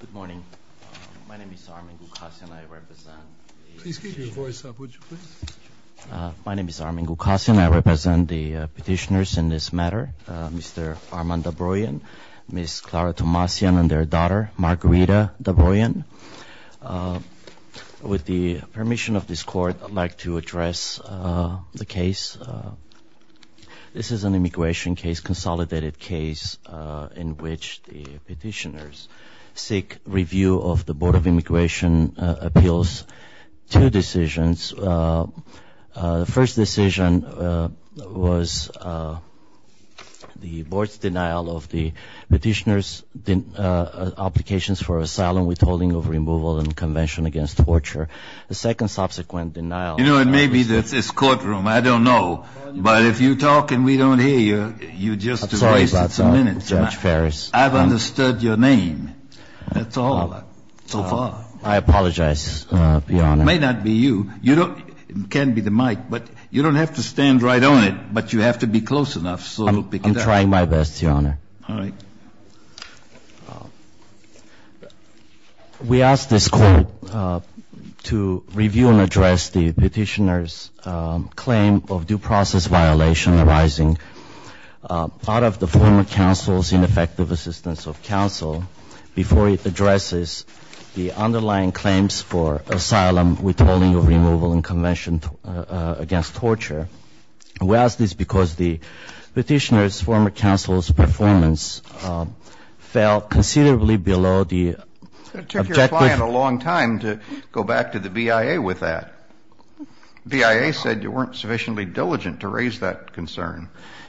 Good morning. My name is Arman Gulkasian. I represent the petitioners in this matter, Mr. Arman Dobroyan, Ms. Clara Tomasian, and their daughter, Margarita Dobroyan. With the case in which the petitioners seek review of the Board of Immigration appeals, two decisions. The first decision was the Board's denial of the petitioners' applications for asylum, withholding of removal, and the Convention Against Torture. The second subsequent denial was the Board's refusal to review the petitioners' applications for asylum, withholding of removal, and the Convention Against Torture. We ask this because the petitioners' claim of due process violation arising out of the former counsel's ineffective assistance of counsel before it addresses the underlying claims for asylum, withholding of removal, and Convention Against Torture. We ask this because the petitioners' former counsel's performance fell considerably below the objective. It took your client a long time to go back to the BIA with that. BIA said you weren't sufficiently diligent to raise that concern.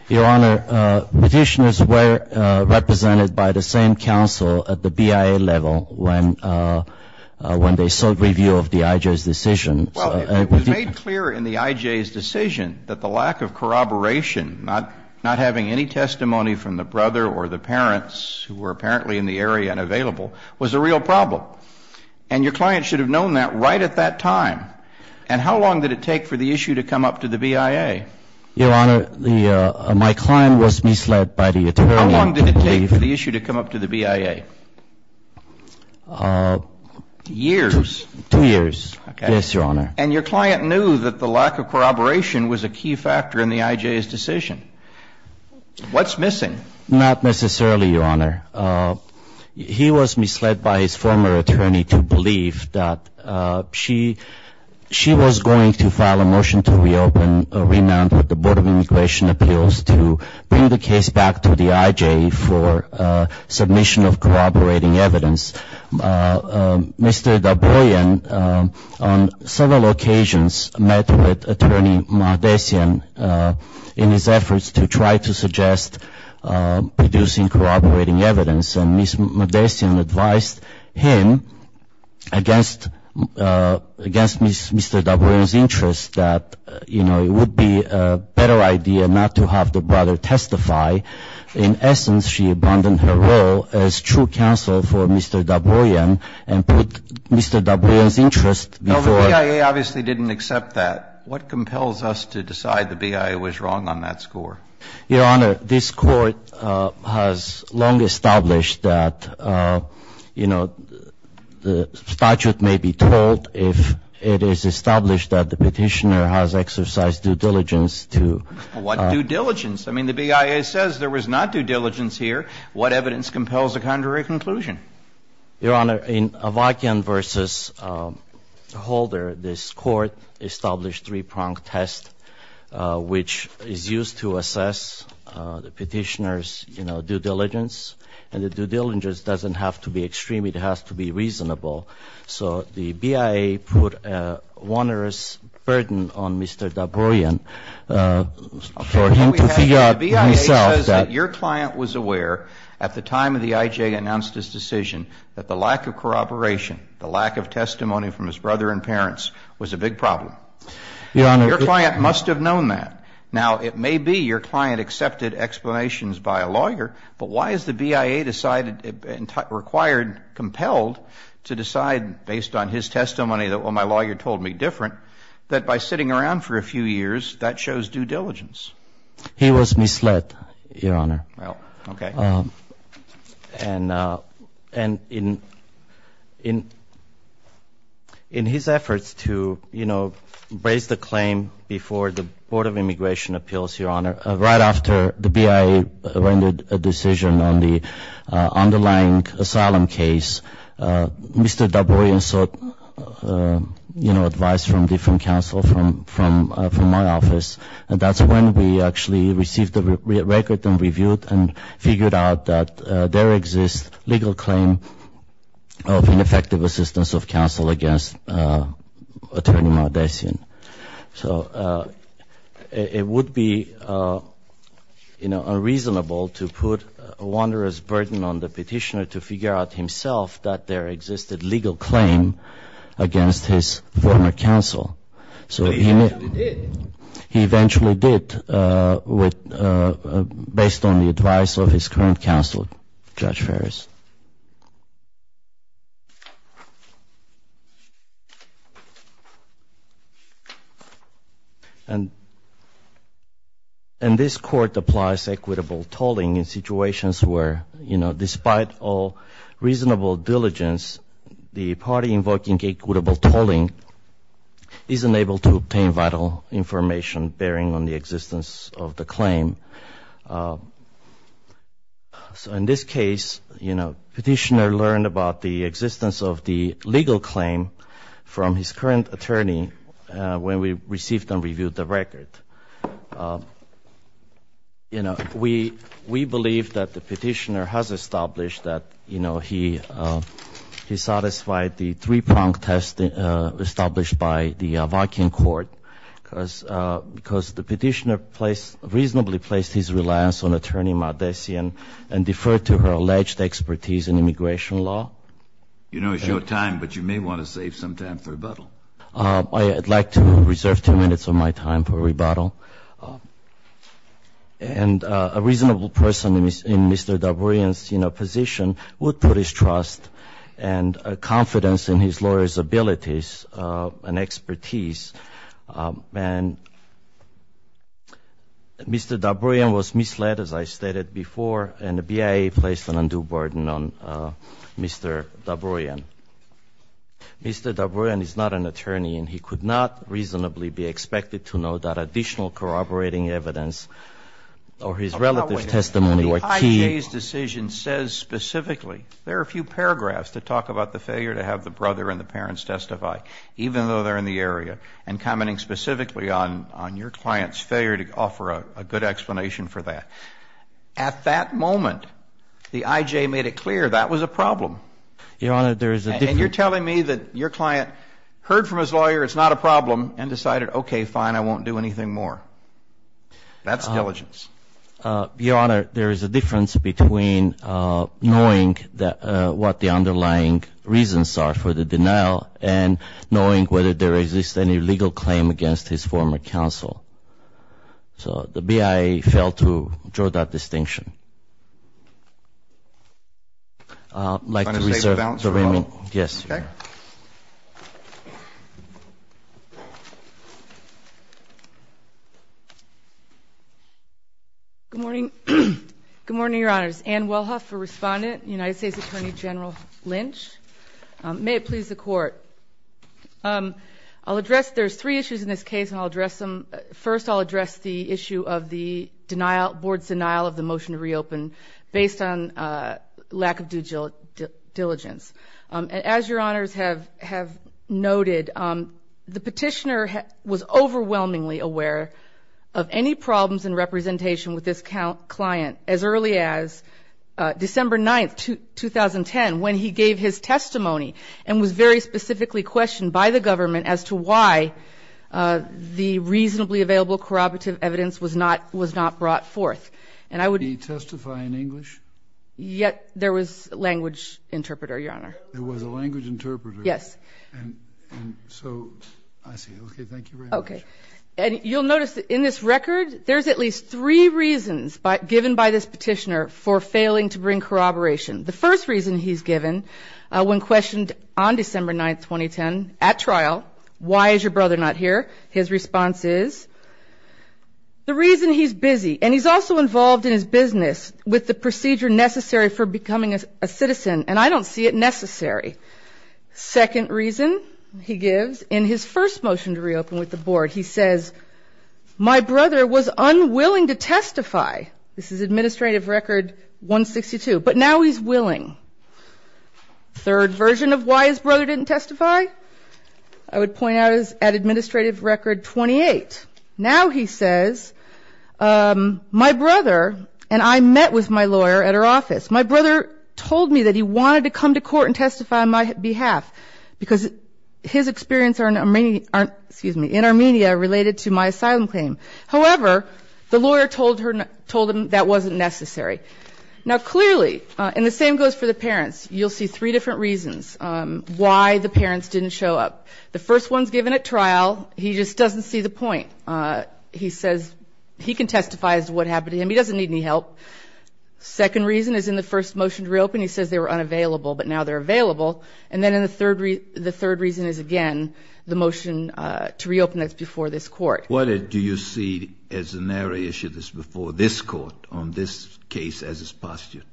Your Honor, petitioners were represented by the same counsel at the BIA level when they sought review of the IJ's decision. Well, it was made clear in the IJ's decision that the lack of corroboration, not having any testimony from the brother or the parents who were apparently in the area and available, was a real problem. And your client should have known that right at that time. And how long did it take for the issue to come up to the BIA? Your Honor, my client was misled by the attorney. How long did it take for the issue to come up to the BIA? Years. Two years. Yes, Your Honor. And your client knew that the lack of corroboration was a key factor in the IJ's decision. What's missing? Not necessarily, Your Honor. He was misled by his former attorney to believe that she was going to file a motion to reopen a remand with the Board of Immigration Appeals to bring the case back to the IJ for submission of corroborating evidence. Mr. Dabroyan, on several occasions, met with Attorney Modessian in his efforts to try to suggest producing corroborating evidence. And Ms. Modessian advised him against Mr. Dabroyan's interest that, you know, it would be a better idea not to have the brother testify. In essence, she abandoned her role as true counsel for Mr. Dabroyan and put Mr. Dabroyan's interest before her. No, the BIA obviously didn't accept that. What compels us to decide the BIA was wrong on that score? Your Honor, this Court has long established that, you know, the statute may be told if it is established that the Petitioner has exercised due diligence to. What due diligence? I mean, the BIA says there was not due diligence here. What evidence compels a contrary conclusion? Your Honor, in Avakian v. Holder, this Court established three-pronged test, which is used to assess the Petitioner's, you know, due diligence. And the due diligence doesn't have to be extreme. It has to be reasonable. So the BIA put a onerous burden on Mr. Dabroyan for him to figure out himself Your Honor, the BIA says that your client was aware at the time of the I.J. announced his decision that the lack of corroboration, the lack of testimony from his brother and parents was a big problem. Your Honor, your client must have known that. Now, it may be your client accepted explanations by a lawyer, but why is the BIA decided and required, compelled to decide based on his testimony that, well, my lawyer told me different, that by sitting around for a few years, that shows due diligence? He was misled, Your Honor. Well, okay. And in his efforts to, you know, raise the claim before the Board of Immigration Appeals, Your Honor, right after the BIA rendered a decision on the underlying asylum case, Mr. Dabroyan sought, you know, advice from different counsel from my office. And that's when we actually received the record and reviewed and figured out that there exists legal claim of ineffective assistance of counsel against Attorney Maldacen. So it would be, you know, unreasonable to put a onerous burden on the petitioner to figure out himself that there existed legal claim against his former counsel. But he eventually did. He eventually did, based on the advice of his current counsel, Judge Ferris. And this Court applies equitable tolling in situations where, you know, despite all obtain vital information bearing on the existence of the claim. So in this case, you know, petitioner learned about the existence of the legal claim from his current attorney when we received and reviewed the record. You know, we believe that the petitioner has established that, you know, he could be released from the Avakian Court because the petitioner reasonably placed his reliance on Attorney Maldacen and deferred to her alleged expertise in immigration law. You know it's your time, but you may want to save some time for rebuttal. I would like to reserve 2 minutes of my time for rebuttal. And a reasonable person in Mr. Dabroyan's position would put his trust and confidence in his lawyer's abilities and expertise. And Mr. Dabroyan was misled, as I stated before, and the BIA placed an undue burden on Mr. Dabroyan. Mr. Dabroyan is not an attorney, and he could not reasonably be expected to know that additional corroborating evidence or his relative testimony were key. The IJ's decision says specifically, there are a few paragraphs that talk about the failure to have the brother and the parents testify, even though they're in the area, and commenting specifically on your client's failure to offer a good explanation for that. At that moment, the IJ made it clear that was a problem. Your Honor, there is a difference. And you're telling me that your client heard from his lawyer it's not a problem and decided, okay, fine, I won't do anything more. That's diligence. Your Honor, there is a difference between knowing what the underlying reasons are for the denial and knowing whether there exists any legal claim against his former counsel. So the BIA failed to draw that distinction. I'd like to reserve the remaining. Yes, Your Honor. Good morning. Good morning, Your Honors. Ann Wellhoff, a respondent, United States Attorney General Lynch. May it please the Court. I'll address, there's three issues in this case, and I'll address them. First, I'll address the issue of the denial, board's denial of the motion to reopen, based on lack of due diligence. As Your Honors have noted, the petitioner was overwhelmingly aware of any problems in representation with this client as early as December 9th, 2010, when he gave his testimony and was very specifically questioned by the government as to why the reasonably available corroborative evidence was not brought forth. Did he testify in English? Yet there was a language interpreter, Your Honor. There was a language interpreter. Yes. And so, I see. Okay, thank you very much. Okay. And you'll notice that in this record, there's at least three reasons given by this petitioner for failing to bring corroboration. The first reason he's given, when questioned on December 9th, 2010, at trial, why is your brother not here, his response is, the reason he's busy. And he's also involved in his business with the procedure necessary for becoming a citizen, and I don't see it necessary. Second reason he gives in his first motion to reopen with the board, he says, my brother was unwilling to testify. This is Administrative Record 162. But now he's willing. Third version of why his brother didn't testify, I would point out, is at Administrative Record 28. Now he says, my brother, and I met with my lawyer at her office, my brother told me that he wanted to come to court and testify on my behalf, because his experience in Armenia related to my asylum claim. However, the lawyer told him that wasn't necessary. Now, clearly, and the same goes for the parents, you'll see three different reasons why the parents didn't show up. The first one is given at trial, he just doesn't see the point. He says he can testify as to what happened to him, he doesn't need any help. Second reason is in the first motion to reopen, he says they were unavailable, but now they're available. And then the third reason is, again, the motion to reopen that's before this Court. What do you see as a narrow issue that's before this Court on this case as is postulated?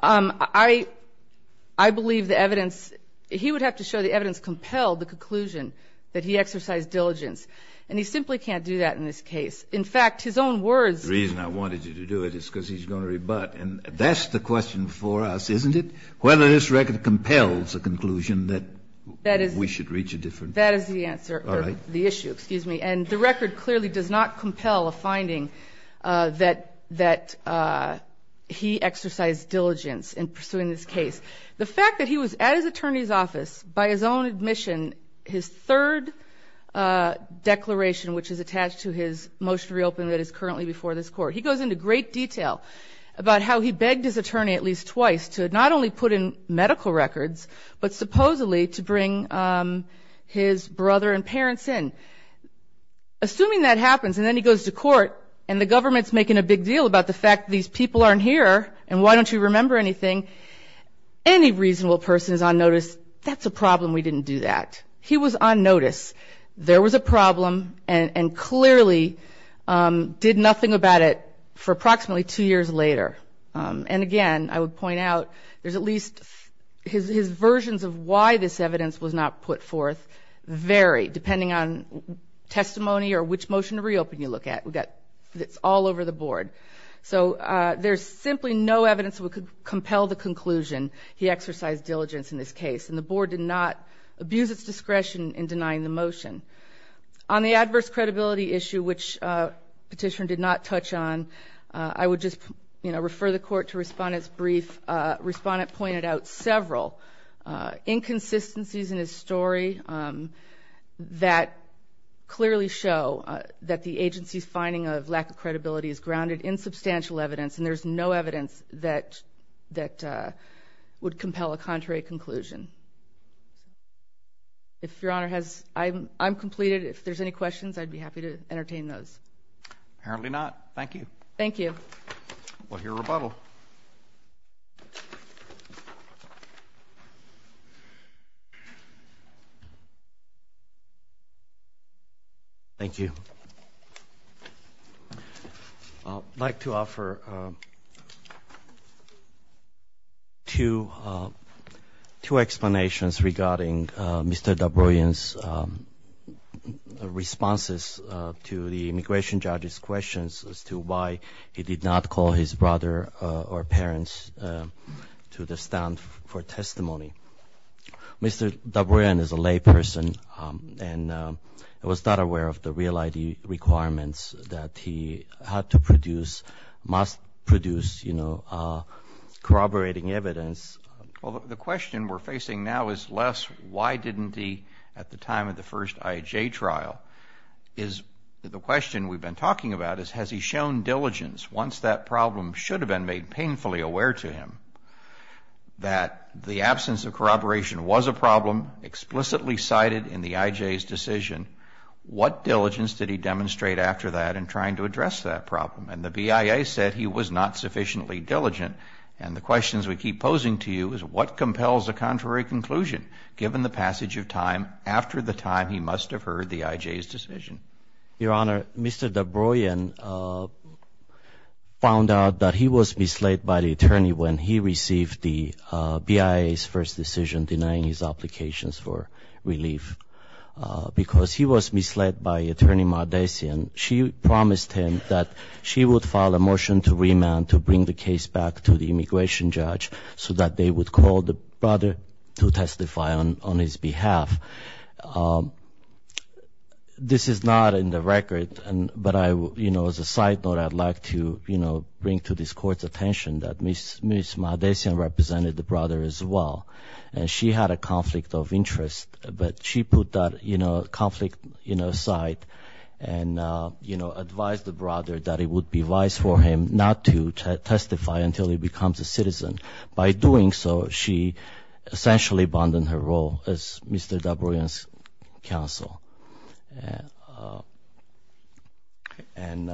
I believe the evidence, he would have to show the evidence compelled the conclusion that he exercised diligence. And he simply can't do that in this case. In fact, his own words. The reason I wanted you to do it is because he's going to rebut. And that's the question for us, isn't it? Whether this record compels a conclusion that we should reach a different. That is the answer. All right. The issue, excuse me. And the record clearly does not compel a finding that he exercised diligence in pursuing this case. The fact that he was at his attorney's office by his own admission, his third declaration which is attached to his motion to reopen that is currently before this Court. He goes into great detail about how he begged his attorney at least twice to not only put in medical records, but supposedly to bring his brother and parents in. Assuming that happens and then he goes to court and the government's making a big deal about the fact that these people aren't here and why don't you remember anything, any reasonable person is on notice, that's a problem we didn't do that. He was on notice. There was a problem and clearly did nothing about it for approximately two years later. And, again, I would point out there's at least his versions of why this evidence was not put forth vary depending on testimony or which motion to reopen you look at. It's all over the Board. So there's simply no evidence that would compel the conclusion he exercised diligence in this case, and the Board did not abuse its discretion in denying the motion. On the adverse credibility issue which Petitioner did not touch on, I would just refer the Court to Respondent's brief. Respondent pointed out several inconsistencies in his story that clearly show that the agency's finding of lack of credibility is grounded in substantial evidence, and there's no evidence that would compel a contrary conclusion. If Your Honor has, I'm completed. If there's any questions, I'd be happy to entertain those. Apparently not. Thank you. Thank you. We'll hear rebuttal. Thank you. I'd like to offer two explanations regarding Mr. Dabroyan's responses to the immigration judge's questions as to why he did not call his brother or parents to the stand for testimony. Mr. Dabroyan is a lay person and was not aware of the real ID requirements that he had to produce, must produce, you know, corroborating evidence. Well, the question we're facing now is less why didn't he at the time of the first IHA trial. The question we've been talking about is has he shown diligence once that problem should have been made aware to him that the absence of corroboration was a problem explicitly cited in the IJ's decision. What diligence did he demonstrate after that in trying to address that problem? And the BIA said he was not sufficiently diligent. And the questions we keep posing to you is what compels a contrary conclusion given the passage of time after the time he must have heard the IJ's decision. Your Honor, Mr. Dabroyan found out that he was misled by the attorney when he received the BIA's first decision denying his applications for relief because he was misled by Attorney Mardessian. She promised him that she would file a motion to remand to bring the case back to the immigration judge so that they would call the brother to testify on his behalf. This is not in the record, but as a side note, I'd like to bring to this Court's attention that Ms. Mardessian represented the brother as well, and she had a conflict of interest. But she put that conflict aside and advised the brother that it would be wise for him not to testify until he becomes a citizen. By doing so, she essentially abandoned her role as Mr. Dabroyan's counsel. And,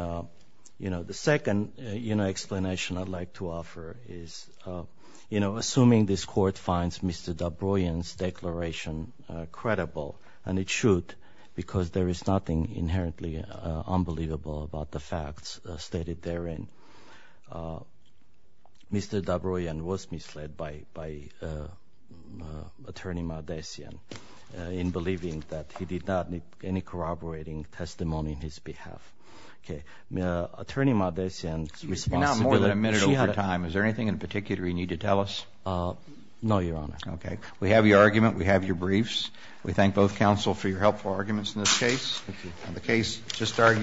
you know, the second explanation I'd like to offer is, you know, assuming this Court finds Mr. Dabroyan's declaration credible, and it should because there is nothing inherently unbelievable about the facts stated therein, Mr. Dabroyan was misled by Attorney Mardessian in believing that he did not need any corroborating testimony on his behalf. Okay. Attorney Mardessian's responsibility... Not more than a minute over time. Is there anything in particular you need to tell us? No, Your Honor. Okay. We have your argument. We have your briefs. We thank both counsel for your helpful arguments in this case. The case just argues...